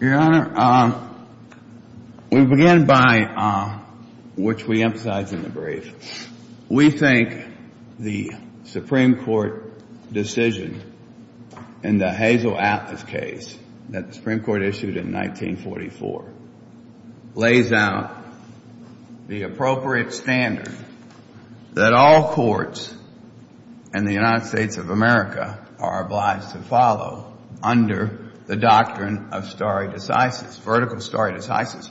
Your Honor, we begin by, which we emphasize in the brief, we think the Supreme Court decision in the Hazel Atlas case that the Supreme Court issued in 1944 lays out the appropriate standard that all courts in the United States of America are obliged to follow under the doctrine of stare decisis, vertical stare decisis.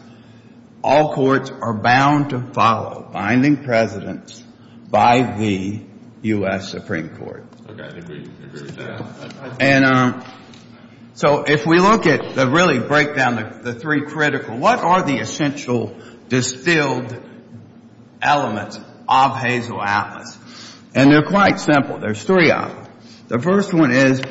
All courts are bound to follow binding precedence by the U.S. Supreme Court. Okay. I agree. I agree with that. And so if we look at the really breakdown of the three critical, what are the essential distilled elements of Hazel Atlas? And they're quite simple. There's three of them. The first one is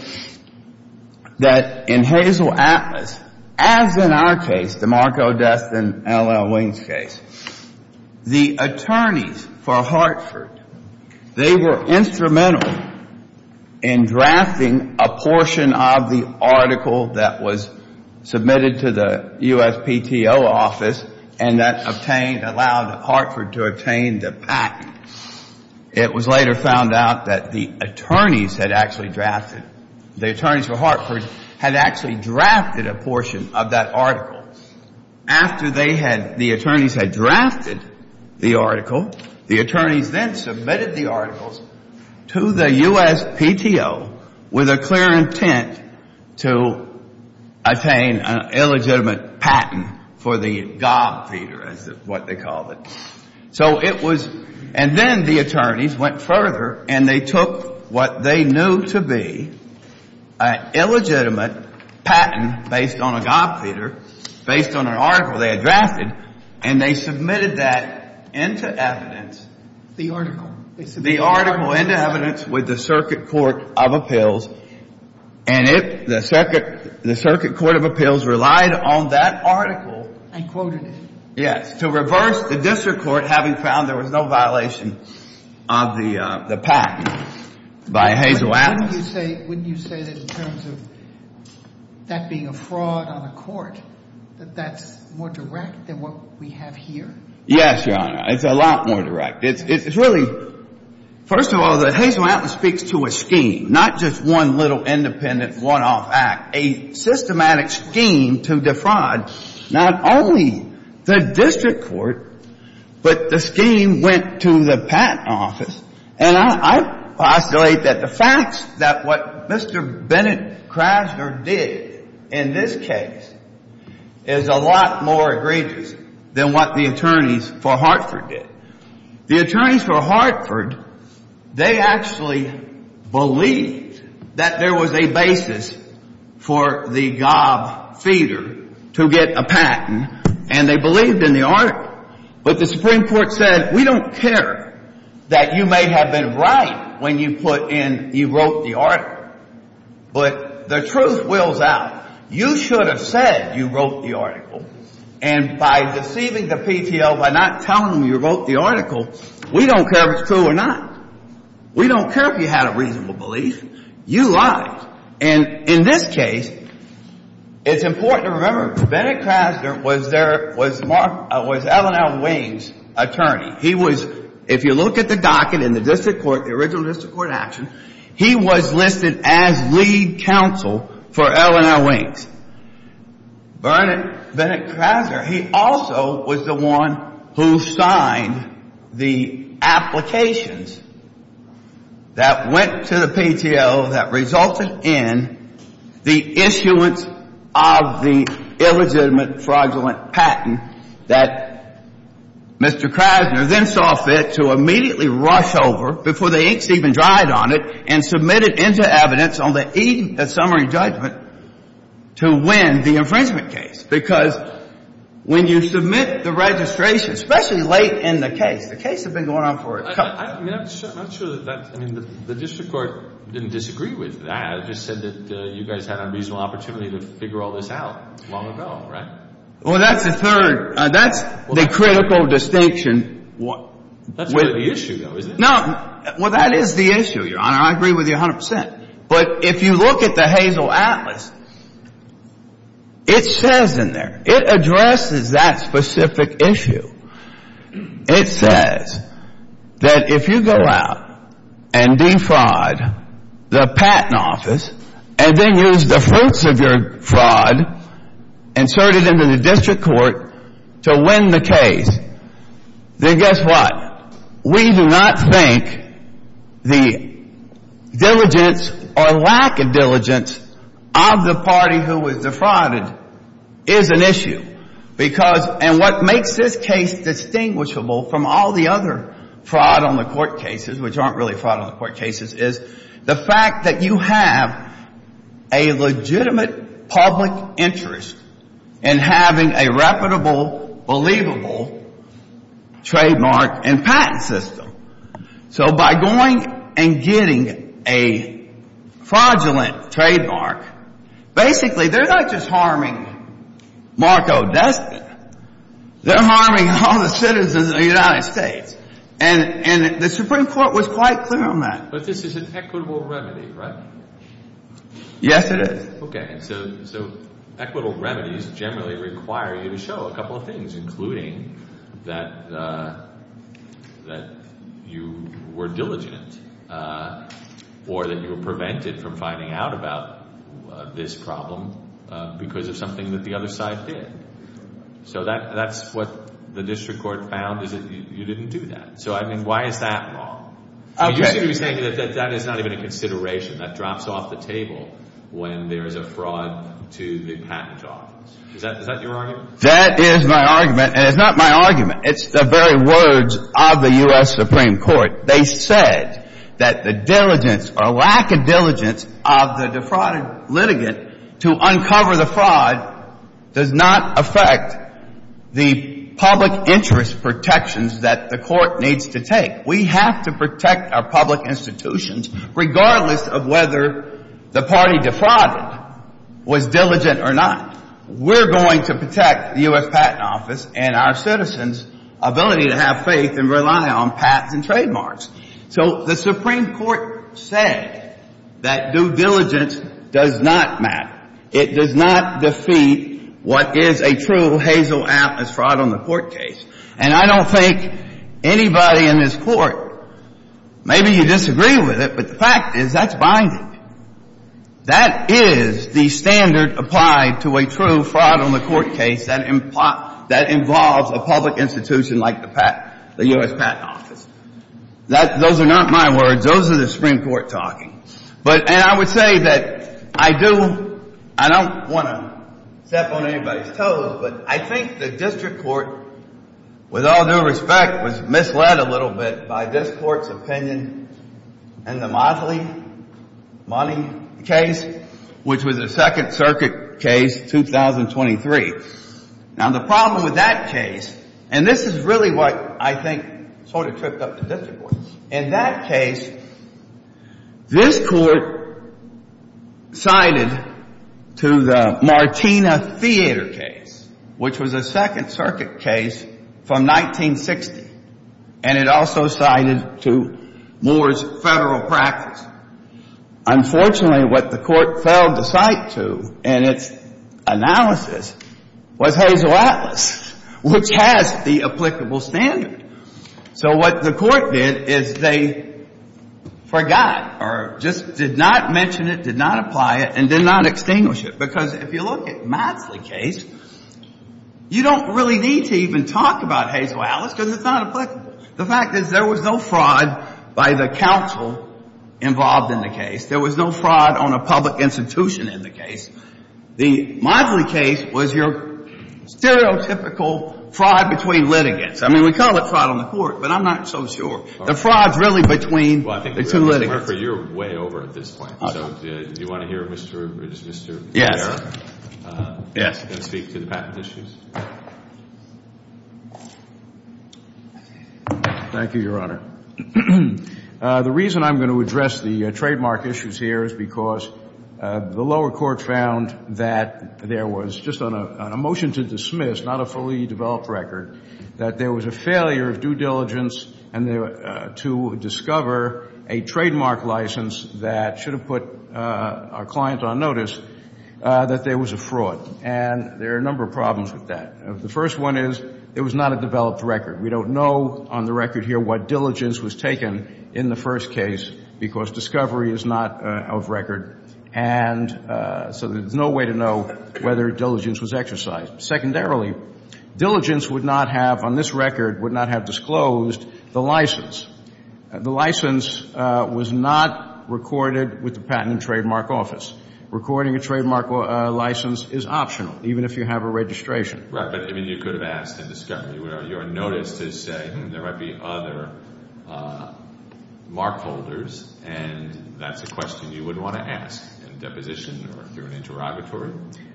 that in Hazel Atlas, as in our case, the Mark O. Destin, L.L. Wings case, the attorneys for Hartford, they were instrumental in drafting a portion of the article that was submitted to the USPTO office and that obtained, allowed Hartford to obtain the patent. It was later found out that the attorneys had actually drafted, the attorneys for Hartford had actually drafted a portion of that article. After they had, the attorneys had drafted the article, the attorneys then submitted the articles to the USPTO with a clear intent to attain an illegitimate patent for the gob feeder, is what they called it. So it was, and then the attorneys went further and they took what they knew to be an illegitimate patent based on a gob feeder, based on an article they had drafted, and they submitted that into evidence. The article. The article into evidence with the circuit court of appeals, and it, the circuit, the circuit court of appeals relied on that article. And quoted it. Yes. To reverse the district court having found there was no violation of the patent by Hazel Atlas. But wouldn't you say, wouldn't you say that in terms of that being a fraud on a court, that that's more direct than what we have here? Yes, Your Honor. It's a lot more direct. It's really, first of all, the Hazel Atlas speaks to a scheme, not just one little independent one-off act, a systematic scheme to defraud not only the district court, but the scheme went to the patent office. And I postulate that the facts that what Mr. Bennett Krasner did in this case is a lot more egregious than what the attorneys for Hartford did. The attorneys for Hartford, they actually believed that there was a basis for the gob feeder to get a patent, and they believed in the article. But the Supreme Court said, we don't care that you may have been right when you put in, you wrote the article. But the truth wills out. You should have said you wrote the article. And by deceiving the PTO by not telling them you wrote the article, we don't care if it's true or not. We don't care if you had a reasonable belief. You lied. And in this case, it's important to remember Bennett Krasner was there, was L&L Wayne's attorney. He was, if you look at the docket in the district court, the original district court action, he was listed as lead counsel for L&L Wayne's. Bernard Bennett Krasner, he also was the one who signed the applications that went to the PTO that resulted in the issuance of the illegitimate fraudulent patent that Mr. Krasner then saw fit to immediately rush over before the inks even dried on it and submit it into evidence on the eve of summary judgment to win the infringement case. Because when you submit the registration, especially late in the case, the case had been going on for a couple of years. I'm not sure that that's, I mean, the district court didn't disagree with that. It just said that you guys had a reasonable opportunity to figure all this out long ago, right? Well, that's the third. That's the critical distinction. That's not the issue, though, is it? No, well, that is the issue, Your Honor. I agree with you a hundred percent. But if you look at the Hazel Atlas, it says in there, it addresses that specific issue. It says that if you go out and defraud the patent office and then use the fruits of your to win the case, then guess what? We do not think the diligence or lack of diligence of the party who was defrauded is an issue. Because, and what makes this case distinguishable from all the other fraud on the court cases, which aren't really fraud on the court cases, is the fact that you have a legitimate public interest in having a reputable, believable trademark and patent system. So by going and getting a fraudulent trademark, basically, they're not just harming Marco Destin. They're harming all the citizens of the United States. And the Supreme Court was quite clear on that. But this is an equitable remedy, right? Yes, it is. Okay, so equitable remedies generally require you to show a couple of things, including that you were diligent or that you were prevented from finding out about this problem because of something that the other side did. So that's what the district court found is that you didn't do that. So, I mean, why is that wrong? You should be saying that that is not even a consideration. That drops off the table when there is a fraud to the patent office. Is that your argument? That is my argument. And it's not my argument. It's the very words of the U.S. Supreme Court. They said that the diligence or lack of diligence of the defrauded litigant to uncover the fraud does not affect the public interest protections that the court needs to take. We have to protect our public institutions regardless of whether the party defrauded was diligent or not. We're going to protect the U.S. Patent Office and our citizens' ability to have faith and rely on patents and trademarks. So the Supreme Court said that due diligence does not matter. It does not defeat what is a true hazel app as fraud on the court case. And I don't think anybody in this Court, maybe you disagree with it, but the fact is that's binding. That is the standard applied to a true fraud on the court case that involves a public institution like the U.S. Patent Office. Those are not my words. Those are the Supreme Court talking. And I would say that I do — I don't want to step on anybody's toes, but I think the case, with all due respect, was misled a little bit by this Court's opinion in the Motley Money case, which was a Second Circuit case, 2023. Now, the problem with that case — and this is really what I think sort of tripped up the district court. In that case, this Court sided to the Martina Theodore case, which was a Second Circuit case from 1960, and it also sided to Moore's federal practice. Unfortunately, what the Court failed to cite to in its analysis was hazel atlas, which has the applicable standard. So what the Court did is they forgot or just did not mention it, did not apply it, and did not extinguish it. Because if you look at Motley case, you don't really need to even talk about hazel atlas because it's not applicable. The fact is there was no fraud by the counsel involved in the case. There was no fraud on a public institution in the case. The Motley case was your stereotypical fraud between litigants. I mean, we call it fraud on the Court, but I'm not so sure. The fraud's really between the two litigants. Well, I think, Mr. Murphy, you're way over at this point. So do you want to hear Mr. — Mr. — Yes. Yes, go speak to the patent issues. Thank you, Your Honor. The reason I'm going to address the trademark issues here is because the lower court found that there was, just on a motion to dismiss, not a fully developed record, that there was a failure of due diligence to discover a trademark license that should have put our client on that there was a fraud. And there are a number of problems with that. The first one is it was not a developed record. We don't know on the record here what diligence was taken in the first case because discovery is not of record. And so there's no way to know whether diligence was exercised. Secondarily, diligence would not have, on this record, would not have disclosed the license. The license was not recorded with the Patent and Trademark Office. Recording a trademark license is optional, even if you have a registration. Right. But, I mean, you could have asked in discovery where you are noticed to say there might be other mark holders, and that's a question you wouldn't want to ask in deposition or through an interrogatory.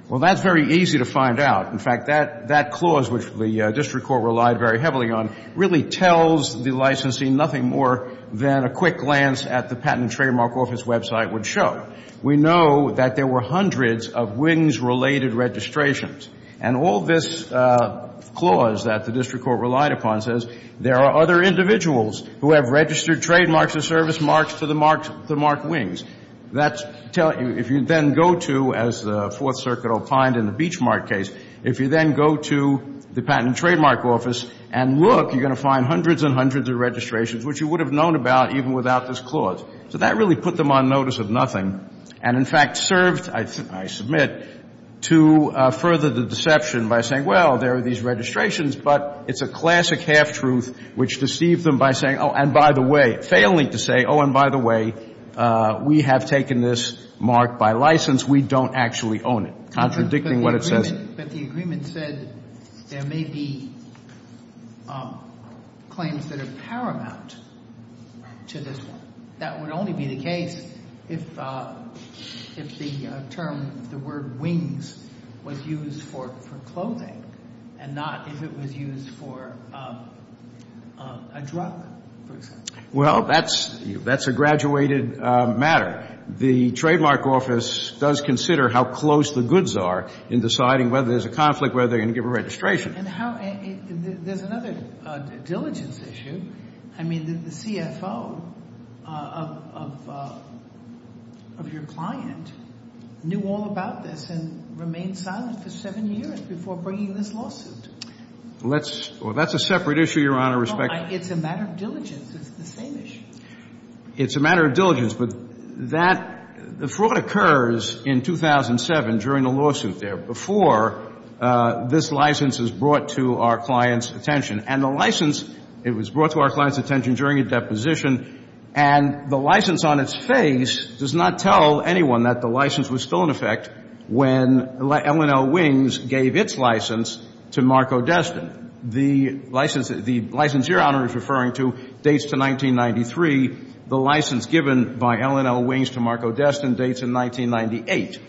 Well, that's very easy to find out. In fact, that clause, which the district court relied very heavily on, really tells the licensing nothing more than a quick glance at the Patent and Trademark Office website would show. We know that there were hundreds of WINGS-related registrations. And all this clause that the district court relied upon says there are other individuals who have registered trademarks or service marks to mark WINGS. If you then go to, as the Fourth Circuit opined in the Beachmark case, if you then go to the Patent and Trademark Office and look, you're going to find hundreds and hundreds of registrations, which you would have known about even without this clause. So that really put them on notice of nothing and, in fact, served, I submit, to further the deception by saying, well, there are these registrations, but it's a classic half-truth which deceived them by saying, oh, and by the way, failing to say, oh, and by the way, we have taken this mark by license. We don't actually own it, contradicting what it says. But the agreement said there may be claims that are paramount to this one. That would only be the case if the term, if the word WINGS was used for clothing and not if it was used for a drug, for example. Well, that's a graduated matter. The Trademark Office does consider how close the goods are in deciding whether there's a conflict, whether they're going to give a registration. And there's another diligence issue. I mean, the CFO of your client knew all about this and remained silent for seven years before bringing this lawsuit. Let's, well, that's a separate issue, Your Honor, respect. It's a matter of diligence. It's the same issue. It's a matter of diligence. But that, the fraud occurs in 2007 during the lawsuit there, before this license is brought to our client's attention. And the license, it was brought to our client's attention during a deposition. And the license on its face does not tell anyone that the license was still in effect when L&L WINGS gave its license to Marco Destin. The license your Honor is referring to dates to 1993. The license given by L&L WINGS to Marco Destin dates in 1998.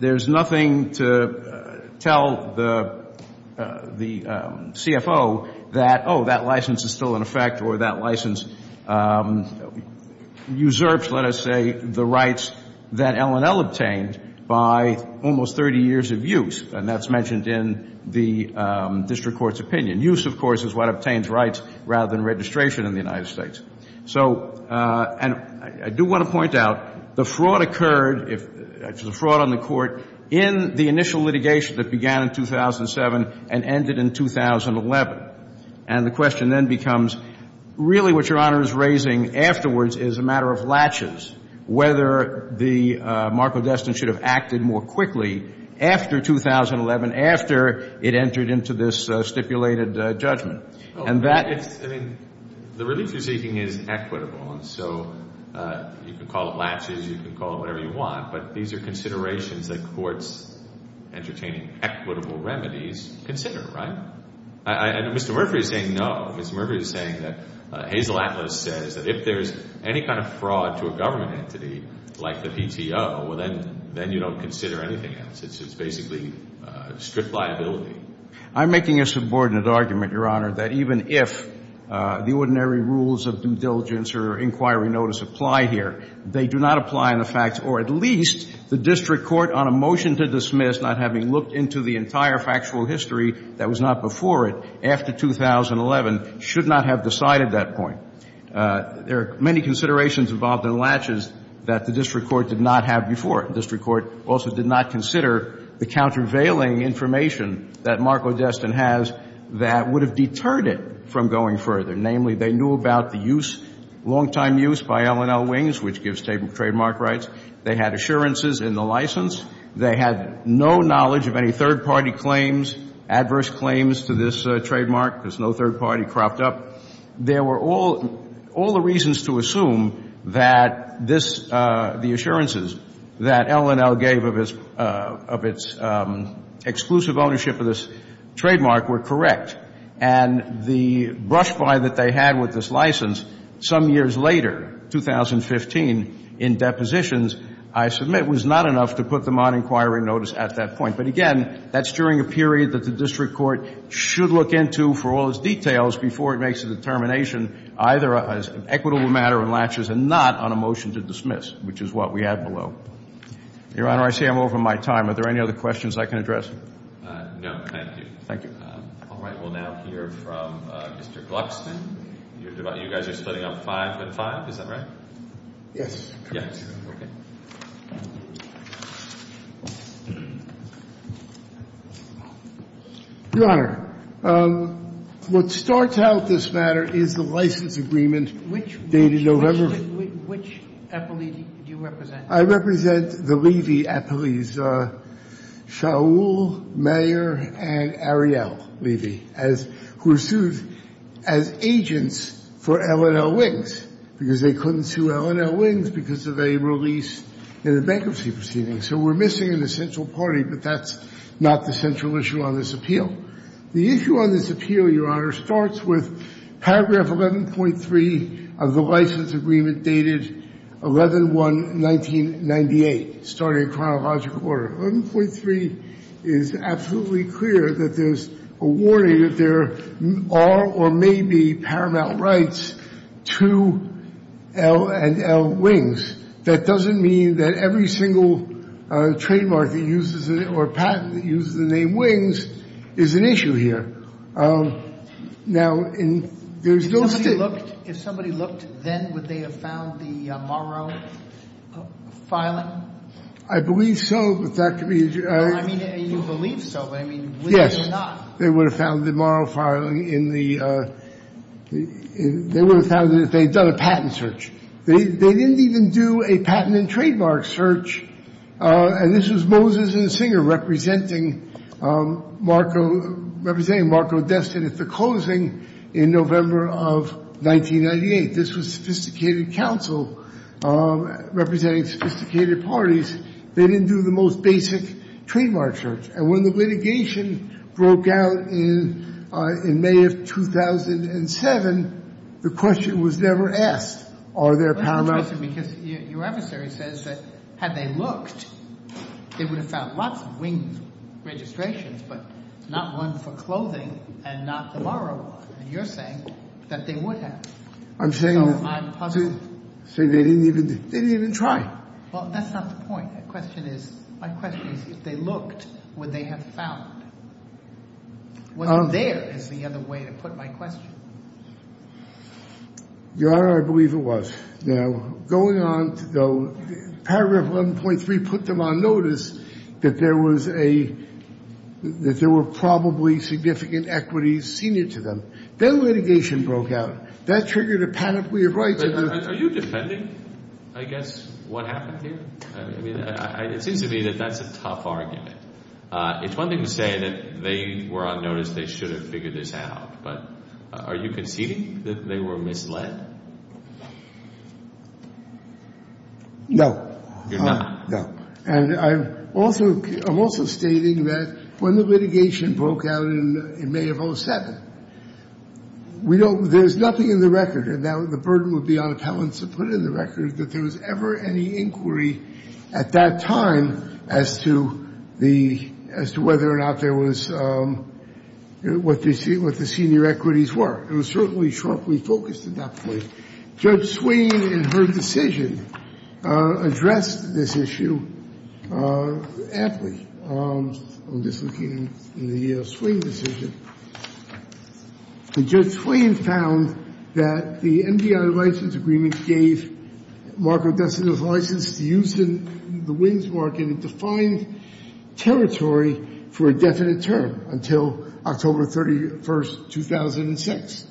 There's nothing to tell the CFO that, oh, that license is still in effect or that license usurps, let us say, the rights that L&L obtained by almost 30 years of use. And that's mentioned in the district court's opinion. Use, of course, is what obtains rights rather than registration in the United States. So, and I do want to point out, the fraud occurred, the fraud on the court, in the initial litigation that began in 2007 and ended in 2011. And the question then becomes, really what your Honor is raising afterwards is a matter of latches, whether the Marco Destin should have acted more quickly after 2011, after it entered into this stipulated judgment. And that... It's, I mean, the relief you're seeking is equitable, and so you can call it latches, you can call it whatever you want, but these are considerations that courts entertaining equitable remedies consider, right? And Mr. Murphy is saying no. Mr. Murphy is saying that Hazel Atlas says that if there's any kind of fraud to a government entity like the PTO, well, then you don't consider anything else. It's basically strict liability. I'm making a subordinate argument, Your Honor, that even if the ordinary rules of due diligence or inquiry notice apply here, they do not apply in the facts, or at least the district court on a motion to dismiss, not having looked into the entire factual history that was not before it, after 2011, should not have decided that point. There are many considerations involved in latches that the district court did not have before. District court also did not consider the countervailing information that Mark Lodeston has that would have deterred it from going further. Namely, they knew about the use, long-time use by L&L Wings, which gives trademark rights. They had assurances in the license. They had no knowledge of any third-party claims, adverse claims to this trademark. There's no third party cropped up. There were all the reasons to assume that the assurances that L&L gave of its exclusive ownership of this trademark were correct. And the brush fire that they had with this license some years later, 2015, in depositions, I submit was not enough to put them on inquiry notice at that point. But again, that's during a period that the district court should look into for all its determination, either as an equitable matter in latches and not on a motion to dismiss, which is what we have below. Your Honor, I see I'm over my time. Are there any other questions I can address? No, thank you. Thank you. All right. We'll now hear from Mr. Gluckstein. You guys are splitting up five and five, is that right? Yes. Yes. Your Honor, what starts out this matter is the license agreement dated November. Which appellee do you represent? I represent the Levy appellees, Shaul, Mayer, and Ariel Levy, who were sued as agents for L&L Wings because they couldn't sue L&L Wings because of a release in a bankruptcy proceeding. So we're missing an essential party, but that's not the central issue on this appeal. The issue on this appeal, Your Honor, starts with paragraph 11.3 of the license agreement dated 11-1-1998, starting chronological order. 11.3 is absolutely clear that there's a warning that there are or may be paramount rights to L&L Wings. That doesn't mean that every single trademark that uses it or patent that uses the name Wings is an issue here. Now, there's no state— If somebody looked then, would they have found the Morrow filing? I believe so, but that could be— I mean, you believe so, but I mean, Wings or not— Yes. They would have found the Morrow filing in the—they would have found it if they'd done a patent search. They didn't even do a patent and trademark search, and this was Moses and Singer representing Marco Destin at the closing in November of 1998. This was sophisticated counsel representing sophisticated parties. They didn't do the most basic trademark search. And when the litigation broke out in May of 2007, the question was never asked, are there paramount— Well, that's interesting because your adversary says that had they looked, they would have found lots of Wings registrations, but not one for clothing and not the Morrow one. And you're saying that they would have. I'm saying that— So, I'm puzzled. Say they didn't even—they didn't even try. Well, that's not the point. The question is—my question is if they looked, would they have found? Was there is the other way to put my question. Your Honor, I believe it was. Now, going on to—paragraph 11.3 put them on notice that there was a—that there were probably significant equities senior to them. Then litigation broke out. That triggered a panoply of rights. But are you defending, I guess, what happened here? I mean, it seems to me that that's a tough argument. It's one thing to say that they were on notice, they should have figured this out. But are you conceding that they were misled? No. You're not? No. And I'm also—I'm also stating that when the litigation broke out in May of 2007, we don't—there's nothing in the record, and now the burden would be on appellants to put in the record that there was ever any inquiry at that time as to the—as to whether or not there was—what the senior equities were. It was certainly sharply focused at that point. Judge Swing, in her decision, addressed this issue aptly. I'm just looking in the Swing decision. And Judge Swing found that the MDI license agreement gave Marco Destino's license to use in the wins market and defined territory for a definite term until October 31, 2006.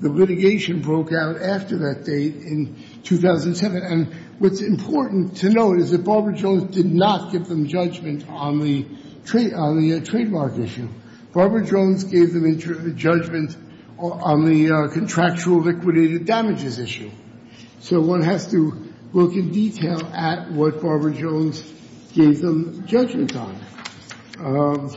The litigation broke out after that date in 2007. And what's important to note is that Barbara Jones did not give them judgment on the trade—on the trademark issue. Barbara Jones gave them judgment on the contractual liquidated damages issue. So one has to look in detail at what Barbara Jones gave them judgment on.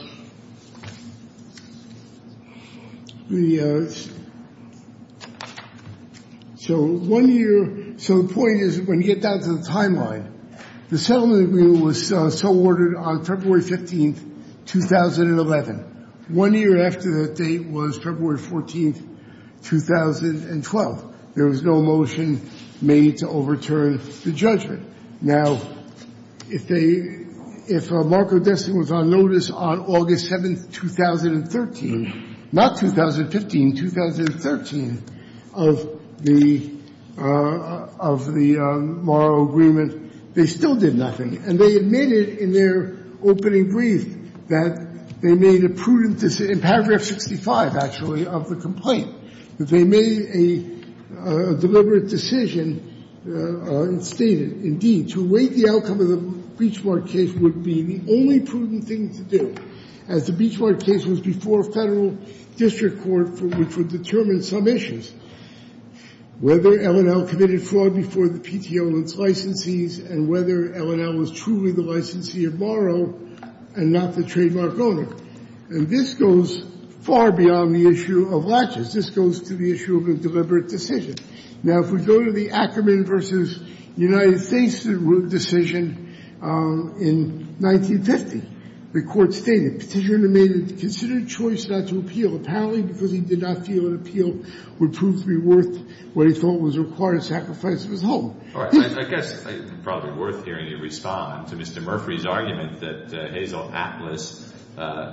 So one year—so the point is, when you get down to the timeline, the settlement agreement was so ordered on February 15, 2011. One year after that date was February 14, 2012. There was no motion made to overturn the judgment. Now, if they—if Marco Destino was on notice on August 7, 2013—not 2015, 2013—of the—of the Morrow agreement, they still did nothing. And they admitted in their opening brief that they made a prudent—in paragraph 65, actually, of the complaint—that they made a deliberate decision and stated, indeed, to wait the outcome of the Beachward case would be the only prudent thing to do, as the Beachward case was before a Federal district court for which would determine some issues. Whether L&L committed fraud before the PTO and its licensees, and whether L&L was truly the licensee of Morrow and not the trademark owner. And this goes far beyond the issue of latches. This goes to the issue of a deliberate decision. Now, if we go to the Ackerman v. United States decision in 1950, the Court stated, because he did not feel an appeal would prove to be worth what he thought was a required sacrifice of his home. All right. I guess it's probably worth hearing you respond to Mr. Murphree's argument that Hazel Atlas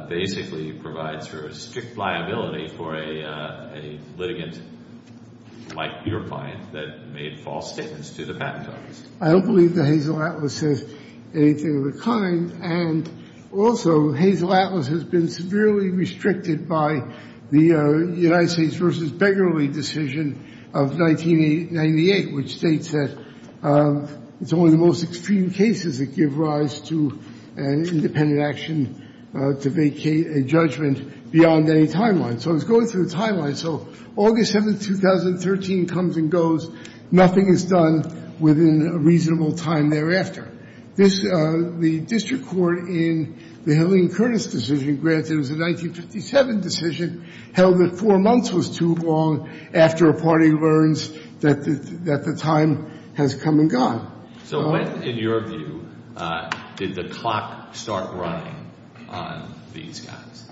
basically provides for a strict liability for a litigant like your client that made false statements to the Patent Office. I don't believe that Hazel Atlas says anything of the kind. And also, Hazel Atlas has been severely restricted by the United States v. Beggarly decision of 1998, which states that it's only the most extreme cases that give rise to an independent action to vacate a judgment beyond any timeline. So it's going through a timeline. So August 7, 2013 comes and goes. Nothing is done within a reasonable time thereafter. This, the district court in the Hilliard-Curtis decision, granted it was a 1957 decision, held that four months was too long after a party learns that the time has come and gone. So when, in your view, did the clock start running on these guys?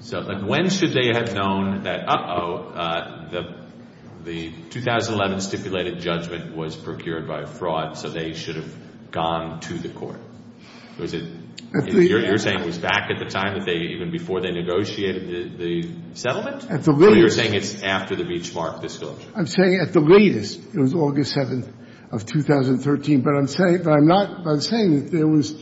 So when should they have known that, uh-oh, the 2011 stipulated judgment was procured by a fraud, so they should have gone to the court? Was it, you're saying it was back at the time that they, even before they negotiated the settlement? So you're saying it's after the Beachmark disclosure? I'm saying at the latest. It was August 7 of 2013. But I'm saying that there was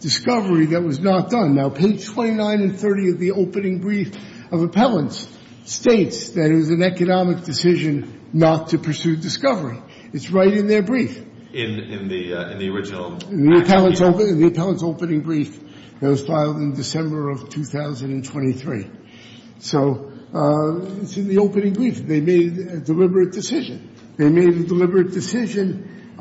discovery that was not done. Now, page 29 and 30 of the opening brief of appellants states that it was an economic decision not to pursue discovery. It's right in their brief. In the original? In the appellant's opening brief that was filed in December of 2023. So it's in the opening brief. They made a deliberate decision. They made a deliberate decision,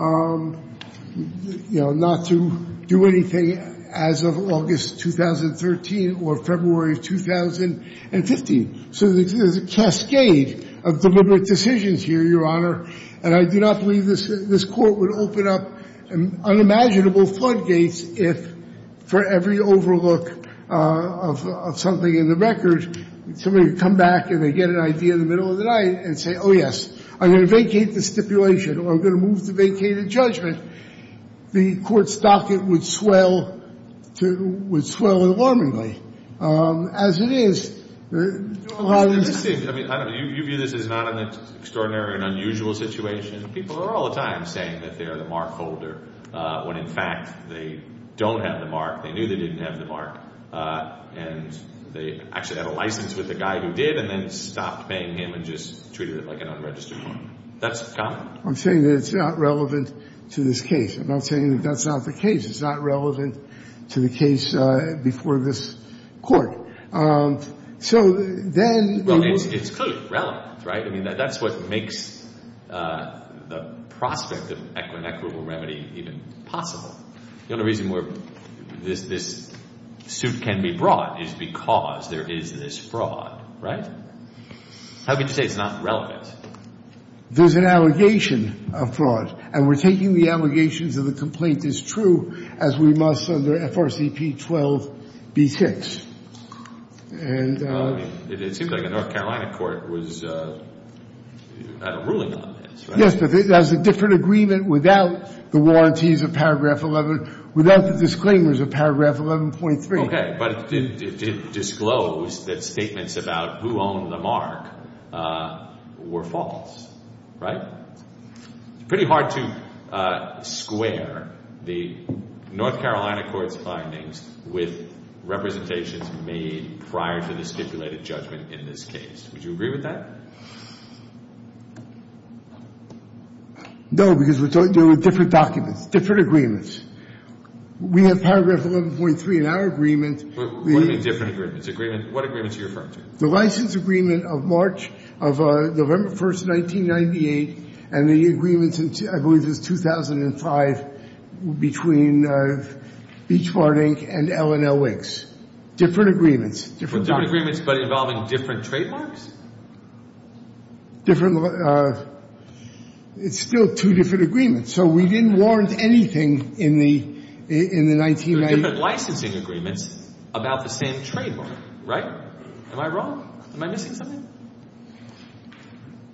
you know, not to do anything as of August 2013 or February 2015. So there's a cascade of deliberate decisions here, Your Honor. And I do not believe this court would open up unimaginable floodgates if, for every overlook of something in the record, somebody would come back and they'd get an idea in the middle of the night and say, oh, yes, I'm going to vacate the stipulation, or I'm going to move the vacated judgment. The court's docket would swell alarmingly. As it is, Your Honor. Interesting. I mean, you view this as not an extraordinary and unusual situation. People are all the time saying that they are the mark holder when, in fact, they don't have the mark. They knew they didn't have the mark. And they actually had a license with the guy who did and then stopped paying him and just treated it like an unregistered one. That's common. I'm saying that it's not relevant to this case. And I'm saying that that's not the case. It's not relevant to the case before this court. So then, it's clearly relevant, right? I mean, that's what makes the prospect of equinequitable remedy even possible. The only reason where this suit can be brought is because there is this fraud, right? How could you say it's not relevant? There's an allegation of fraud. And we're taking the allegations of the complaint as true as we must under FRCP 12-B6. And it seems like the North Carolina court was ruling on this. Yes, but there's a different agreement without the warranties of paragraph 11, without the disclaimers of paragraph 11.3. OK, but it did disclose that statements about who owned the mark were false, right? It's pretty hard to square the North Carolina court's findings with representations made prior to the stipulated judgment in this case. Would you agree with that? No, because we're dealing with different documents, different agreements. We have paragraph 11.3 in our agreement. What do you mean different agreements? Agreement, what agreements are you referring to? The license agreement of March, of November 1st, 1998. And the agreement, I believe, is 2005 between Beach Bar, Inc. and L&L Wigs. Different agreements, different documents. Different agreements, but involving different trademarks? Different, it's still two different agreements. So we didn't warrant anything in the 1990s. They're different licensing agreements about the same trademark, right? Am I missing something?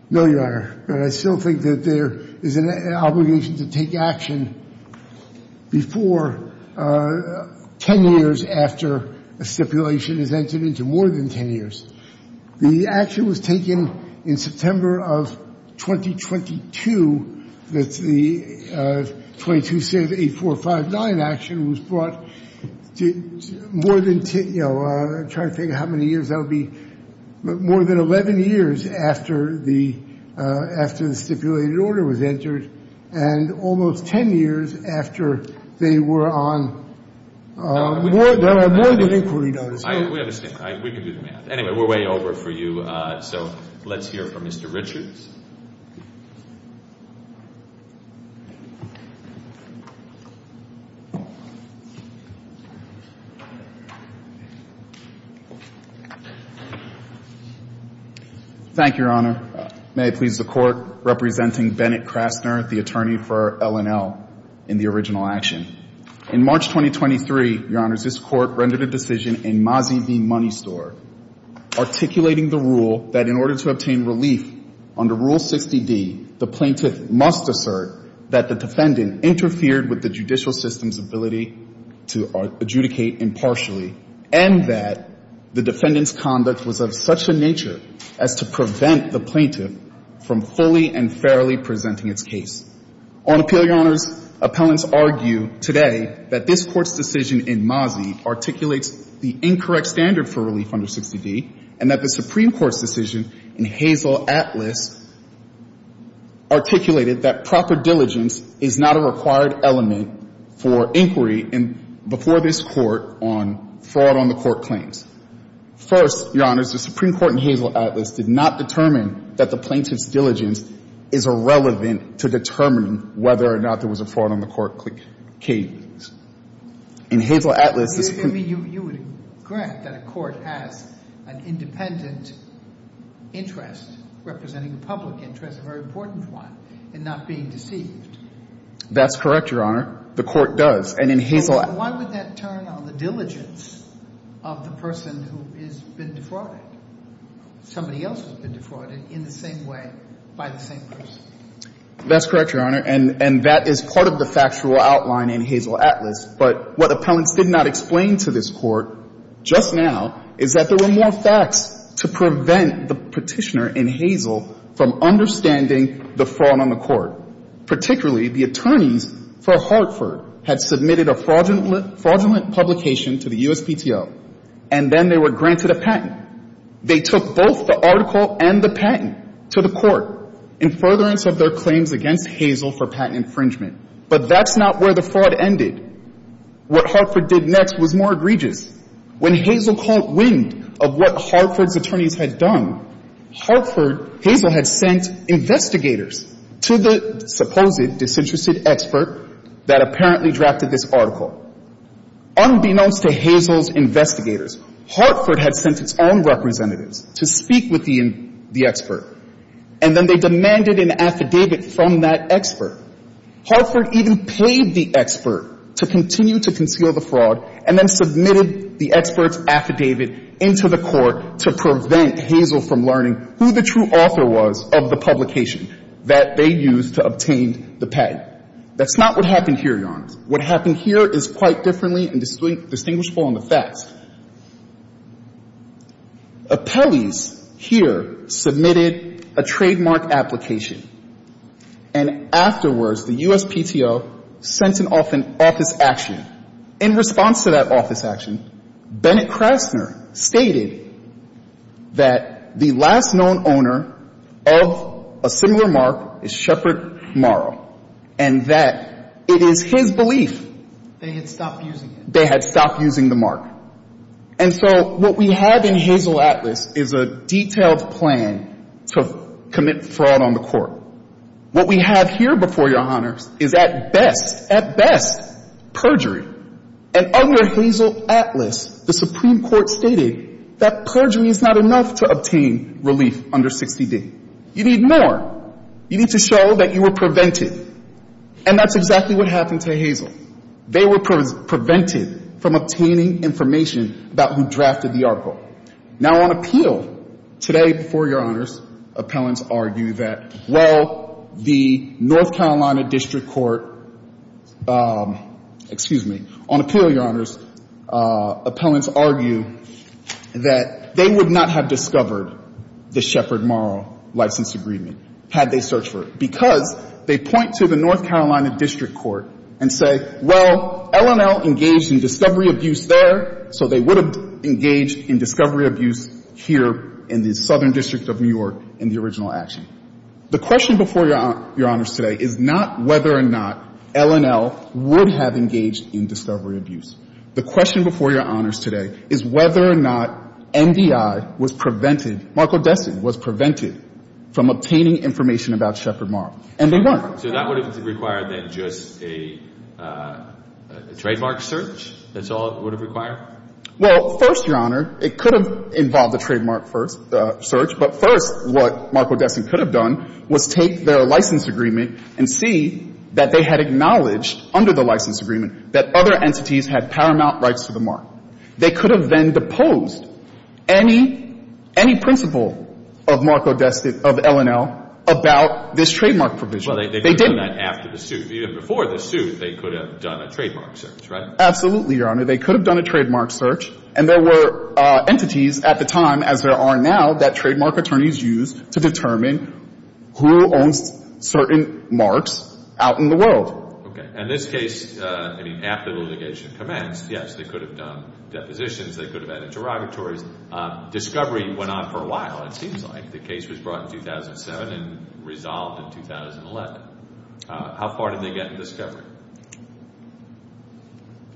No, Your Honor. But I still think that there is an obligation to take action before 10 years after a stipulation is entered into more than 10 years. The action was taken in September of 2022. That's the 22-6-8-4-5-9 action was brought to more than 10, you know, I'm trying to think how many years that would be. More than 11 years after the stipulated order was entered, and almost 10 years after they were on more than an inquiry notice. I understand. We can do the math. Anyway, we're way over for you. So let's hear from Mr. Richards. Thank you, Your Honor. May it please the Court. Representing Bennett Krasner, the attorney for L&L in the original action. In March 2023, Your Honors, this Court rendered a decision in Mazi v. Money Store, articulating the rule that in order to obtain relief under Rule 60D, the plaintiff must assert that the defendant interfered with the judicial system's ability to adjudicate impartially, and that the defendant's conduct was of such a nature as to prevent the plaintiff from fully and fairly presenting its case. On appeal, Your Honors, appellants argue today that this Court's decision in Mazi articulates the incorrect standard for relief under 60D, and that the Supreme Court's decision in Hazel Atlas articulated that proper diligence is not a required element for inquiry before this Court on fraud on the Court claims. First, Your Honors, the Supreme Court in Hazel Atlas did not determine that the plaintiff's diligence is irrelevant to determining whether or not there was a fraud on the Court claims. In Hazel Atlas, the Supreme — You mean you would grant that a court has an independent interest representing the public interest, a very important one, and not being deceived? That's correct, Your Honor. The Court does. And in Hazel — Why would that turn on the diligence of the person who has been defrauded, somebody else who's been defrauded, in the same way, by the same person? That's correct, Your Honor, and that is part of the factual outline in Hazel Atlas. But what appellants did not explain to this Court just now is that there were more facts to prevent the petitioner in Hazel from understanding the fraud on the Court. Particularly, the attorneys for Hartford had submitted a fraudulent publication to the USPTO, and then they were granted a patent. They took both the article and the patent to the Court in furtherance of their claims against Hazel for patent infringement. But that's not where the fraud ended. What Hartford did next was more egregious. When Hazel caught wind of what Hartford's attorneys had done, Hartford — Hazel had sent investigators to the supposed disinterested expert that apparently drafted this article. Unbeknownst to Hazel's investigators, Hartford had sent its own representatives to speak with the expert, and then they demanded an affidavit from that expert. Hartford even paid the expert to continue to conceal the fraud and then submitted the expert's affidavit into the Court to prevent Hazel from learning who the true author was of the publication that they used to obtain the patent. That's not what happened here, Your Honor. What happened here is quite differently and distinguishable in the facts. Appellees here submitted a trademark application. And afterwards, the USPTO sent an office action. In response to that office action, Bennett Krasner stated that the last known owner of a similar mark is Shepard Morrow, and that it is his belief — They had stopped using it. They had stopped using the mark. And so what we have in Hazel Atlas is a detailed plan to commit fraud on the Court. What we have here before you, Your Honors, is at best — at best — perjury. And under Hazel Atlas, the Supreme Court stated that perjury is not enough to obtain relief under 60D. You need more. You need to show that you were prevented. And that's exactly what happened to Hazel. They were prevented from obtaining information about who drafted the article. Now, on appeal today before Your Honors, appellants argue that, well, the North Carolina District Court and say, well, LNL engaged in discovery abuse there, so they would have engaged in discovery abuse here in the Southern District of New York in the original action. The question before Your Honors today is not whether or not LNL would have engaged in discovery abuse. The question before Your Honors today is whether or not NDI was prevented — Marco Destin was prevented from obtaining information about Shepard Marr. And they weren't. So that would have required, then, just a trademark search? That's all it would have required? Well, first, Your Honor, it could have involved a trademark search. But first, what Marco Destin could have done was take their license agreement and see that they had acknowledged under the license agreement that other entities had paramount rights to the mark. They could have then deposed any — any principle of Marco Destin — of LNL about this trademark provision. Well, they didn't do that after the suit. Even before the suit, they could have done a trademark search, right? Absolutely, Your Honor. They could have done a trademark search. And there were entities at the time, as there are now, that trademark attorneys use to determine who owns certain marks out in the world. Okay. And this case — I mean, after the litigation commenced, yes, they could have done depositions. They could have had interrogatories. Discovery went on for a while, it seems like. The case was brought in 2007 and resolved in 2011. How far did they get in discovery?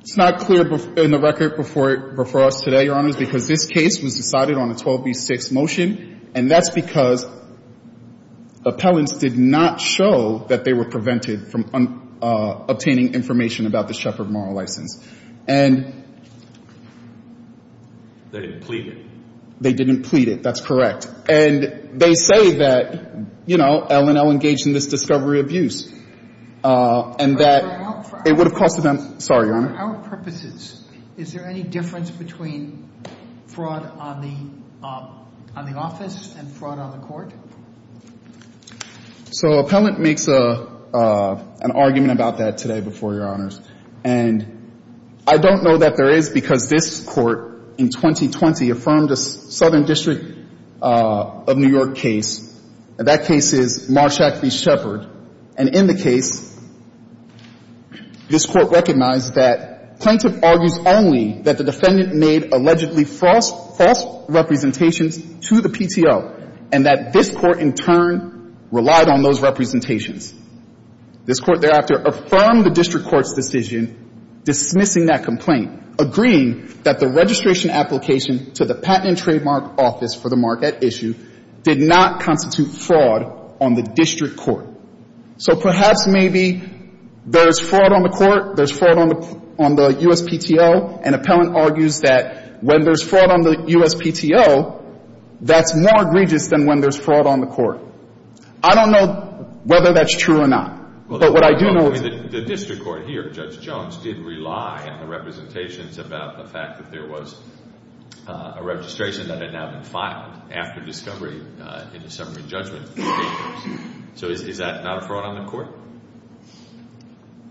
It's not clear in the record before us today, Your Honors, because this case was decided on a 12B6 motion. And that's because appellants did not show that they were prevented from obtaining information about the Shepherd Moral License. And they didn't plead it. They didn't plead it. That's correct. And they say that, you know, LNL engaged in this discovery abuse and that it would have cost them — sorry, Your Honor. For our purposes, is there any difference between fraud on the — on the office and fraud on the court? So appellant makes an argument about that today before Your Honors. And I don't know that there is, because this court in 2020 affirmed a Southern District of New York case, and that case is Marshack v. Shepherd. And in the case, this Court recognized that plaintiff argues only that the defendant made allegedly false — false representations to the PTO, and that this Court in turn relied on those representations. This Court thereafter affirmed the district court's decision dismissing that complaint, agreeing that the registration application to the Patent and Trademark Office for the Mark at Issue did not constitute fraud on the district court. So perhaps maybe there's fraud on the court, there's fraud on the — on the USPTO, and appellant argues that when there's fraud on the USPTO, that's more egregious than when there's fraud on the court. I don't know whether that's true or not. But what I do know — Well, I mean, the district court here, Judge Jones, did rely on the representations about the fact that there was a registration that had now been filed after discovery in the summary judgment. So is that not a fraud on the court?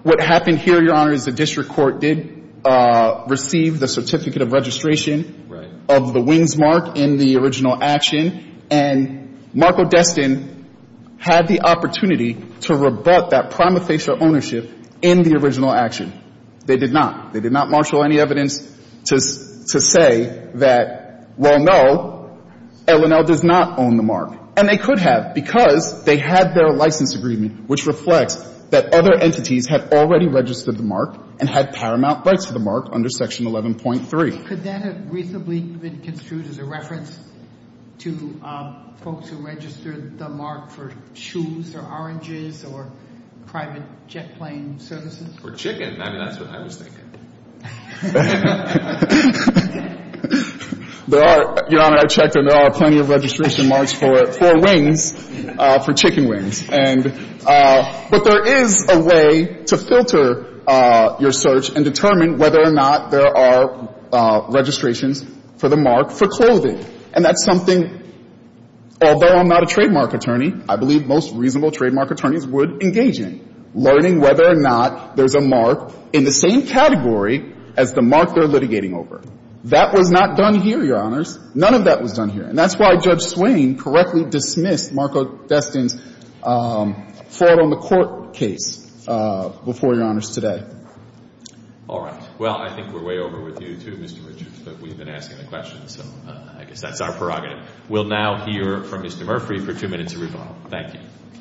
What happened here, Your Honor, is the district court did receive the certificate of registration of the Wings Mark in the original action, and Marco Destin had the opportunity to rebut that prima facie ownership in the original action. They did not. They did not marshal any evidence to say that, well, no, L&L does not own the Mark. And they could have because they had their license agreement, which reflects that other entities had already registered the Mark and had paramount rights to the Mark under Section 11.3. Could that have reasonably been construed as a reference to folks who registered the Mark for shoes or oranges or private jet plane services? Or chicken. I mean, that's what I was thinking. There are — Your Honor, I checked, and there are plenty of registration marks for Wings, for chicken wings. And — but there is a way to filter your search and determine whether or not there are registrations for the Mark for clothing. And that's something, although I'm not a trademark attorney, I believe most reasonable trademark attorneys would engage in, learning whether or not there's a Mark in the same category as the Mark they're litigating over. That was not done here, Your Honors. None of that was done here. And that's why Judge Swain correctly dismissed Marco Destin's fraud on the court case before Your Honors today. All right. Well, I think we're way over with you, too, Mr. Richards, but we've been asking the questions, so I guess that's our prerogative. We'll now hear from Mr. Murphy for two minutes of rebuttal. Thank you. I'm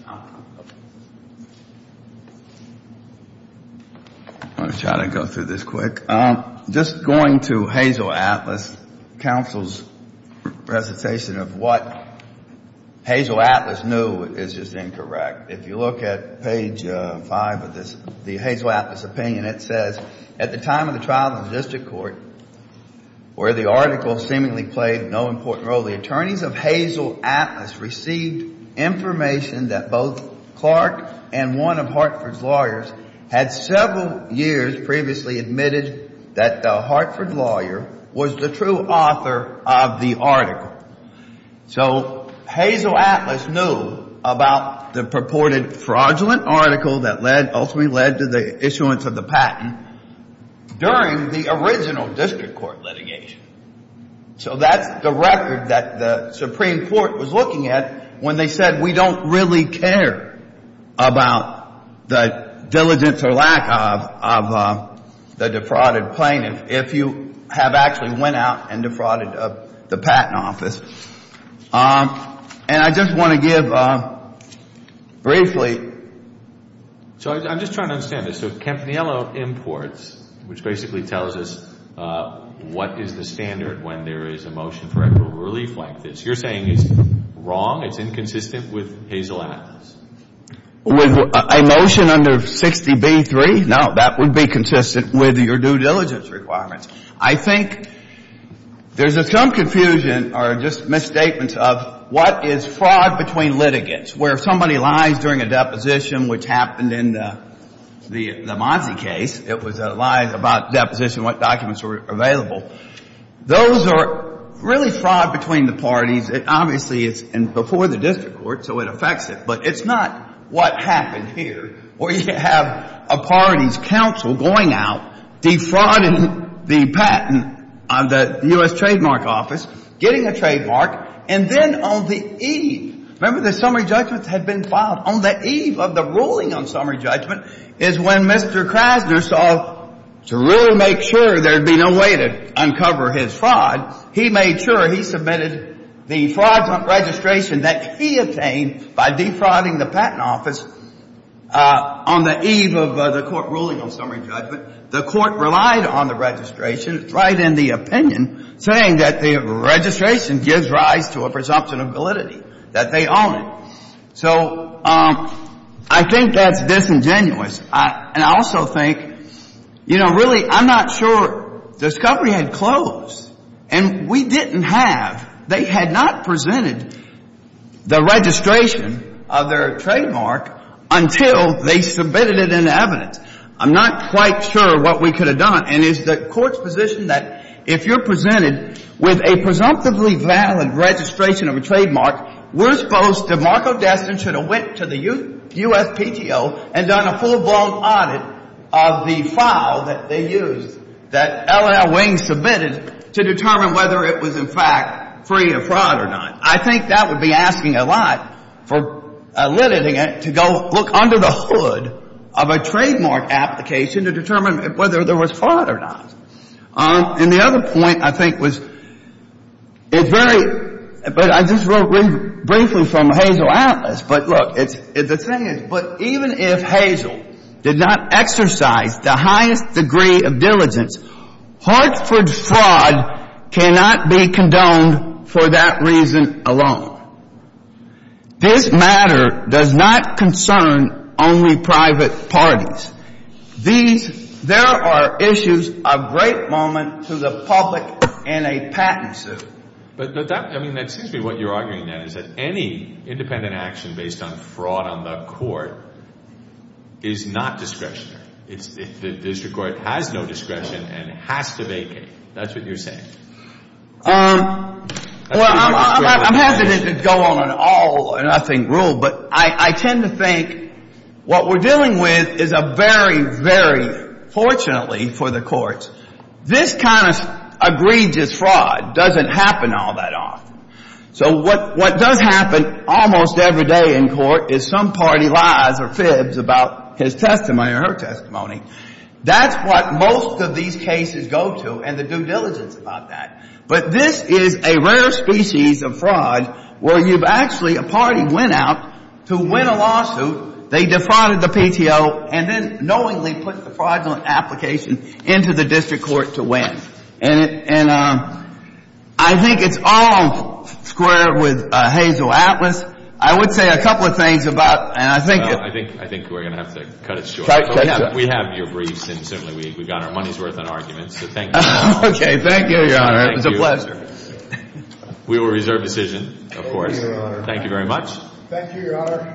going to try to go through this quick. Just going to Hazel Atlas, counsel's presentation of what Hazel Atlas knew is just incorrect. If you look at page 5 of this, the Hazel Atlas opinion, it says, at the time of the trial in the district court where the article seemingly played no important role, the attorneys of Hazel Atlas received information that both Clark and one of Hartford's that the Hartford lawyer was the true author of the article. So Hazel Atlas knew about the purported fraudulent article that ultimately led to the issuance of the patent during the original district court litigation. So that's the record that the Supreme Court was looking at when they said, we don't really care about the diligence or lack of the defrauded plaintiff if you have actually went out and defrauded the patent office. And I just want to give briefly. So I'm just trying to understand this. So Campanello imports, which basically tells us what is the standard when there is a motion for equitable relief like this. You're saying it's wrong? It's inconsistent with Hazel Atlas? With a motion under 60b-3? No. That would be consistent with your due diligence requirements. I think there's some confusion or just misstatements of what is fraud between litigants, where somebody lies during a deposition, which happened in the Mazzi case. It was lies about deposition, what documents were available. Those are really fraud between the parties. Obviously, it's before the district court, so it affects it. But it's not what happened here, where you have a party's counsel going out, defrauding the patent of the U.S. Trademark Office, getting a trademark. And then on the eve, remember the summary judgment had been filed. On the eve of the ruling on summary judgment is when Mr. Krasner saw to really make sure there'd be no way to uncover his fraud. He made sure he submitted the fraudulent registration that he obtained by defrauding the patent office on the eve of the court ruling on summary judgment. The court relied on the registration, right in the opinion, saying that the registration gives rise to a presumption of validity, that they own it. So I think that's disingenuous. And I also think, you know, really, I'm not sure. Discovery had closed. And we didn't have, they had not presented the registration of their trademark until they submitted it in evidence. I'm not quite sure what we could have done. And it's the court's position that if you're presented with a presumptively valid registration of a trademark, we're supposed to, Marco Destin should have went to the USPTO and done a full-blown audit of the file that they used, that L.L. Wing submitted, to determine whether it was, in fact, free of fraud or not. I think that would be asking a lot for limiting it to go look under the hood of a trademark application to determine whether there was fraud or not. And the other point, I think, was it's very, but I just wrote briefly from Hazel Atlas. But look, the thing is, but even if Hazel did not exercise the highest degree of diligence, Hartford fraud cannot be condoned for that reason alone. This matter does not concern only private parties. These, there are issues of great moment to the public in a patent suit. But that, I mean, it seems to me what you're arguing, then, is that any independent action based on fraud on the court is not discretionary. It's, the district court has no discretion and has to vacate. That's what you're saying. Well, I'm hesitant to go on an all or nothing rule, but I tend to think what we're dealing with is a very, very, fortunately for the courts, this kind of egregious fraud doesn't happen all that often. So what does happen almost every day in court is some party lies or fibs about his testimony or her testimony. That's what most of these cases go to and the due diligence about that. But this is a rare species of fraud where you've actually, a party went out to win a lawsuit. They defrauded the PTO and then knowingly put the fraudulent application into the district court to win. And I think it's all squared with Hazel Atlas. I would say a couple of things about, and I think that I think we're going to have to cut it short. We have your briefs and certainly we've got our money's worth on arguments. So thank you. Okay. Thank you, Your Honor. It was a pleasure. We will reserve decision, of course. Thank you very much. Thank you, Your Honor.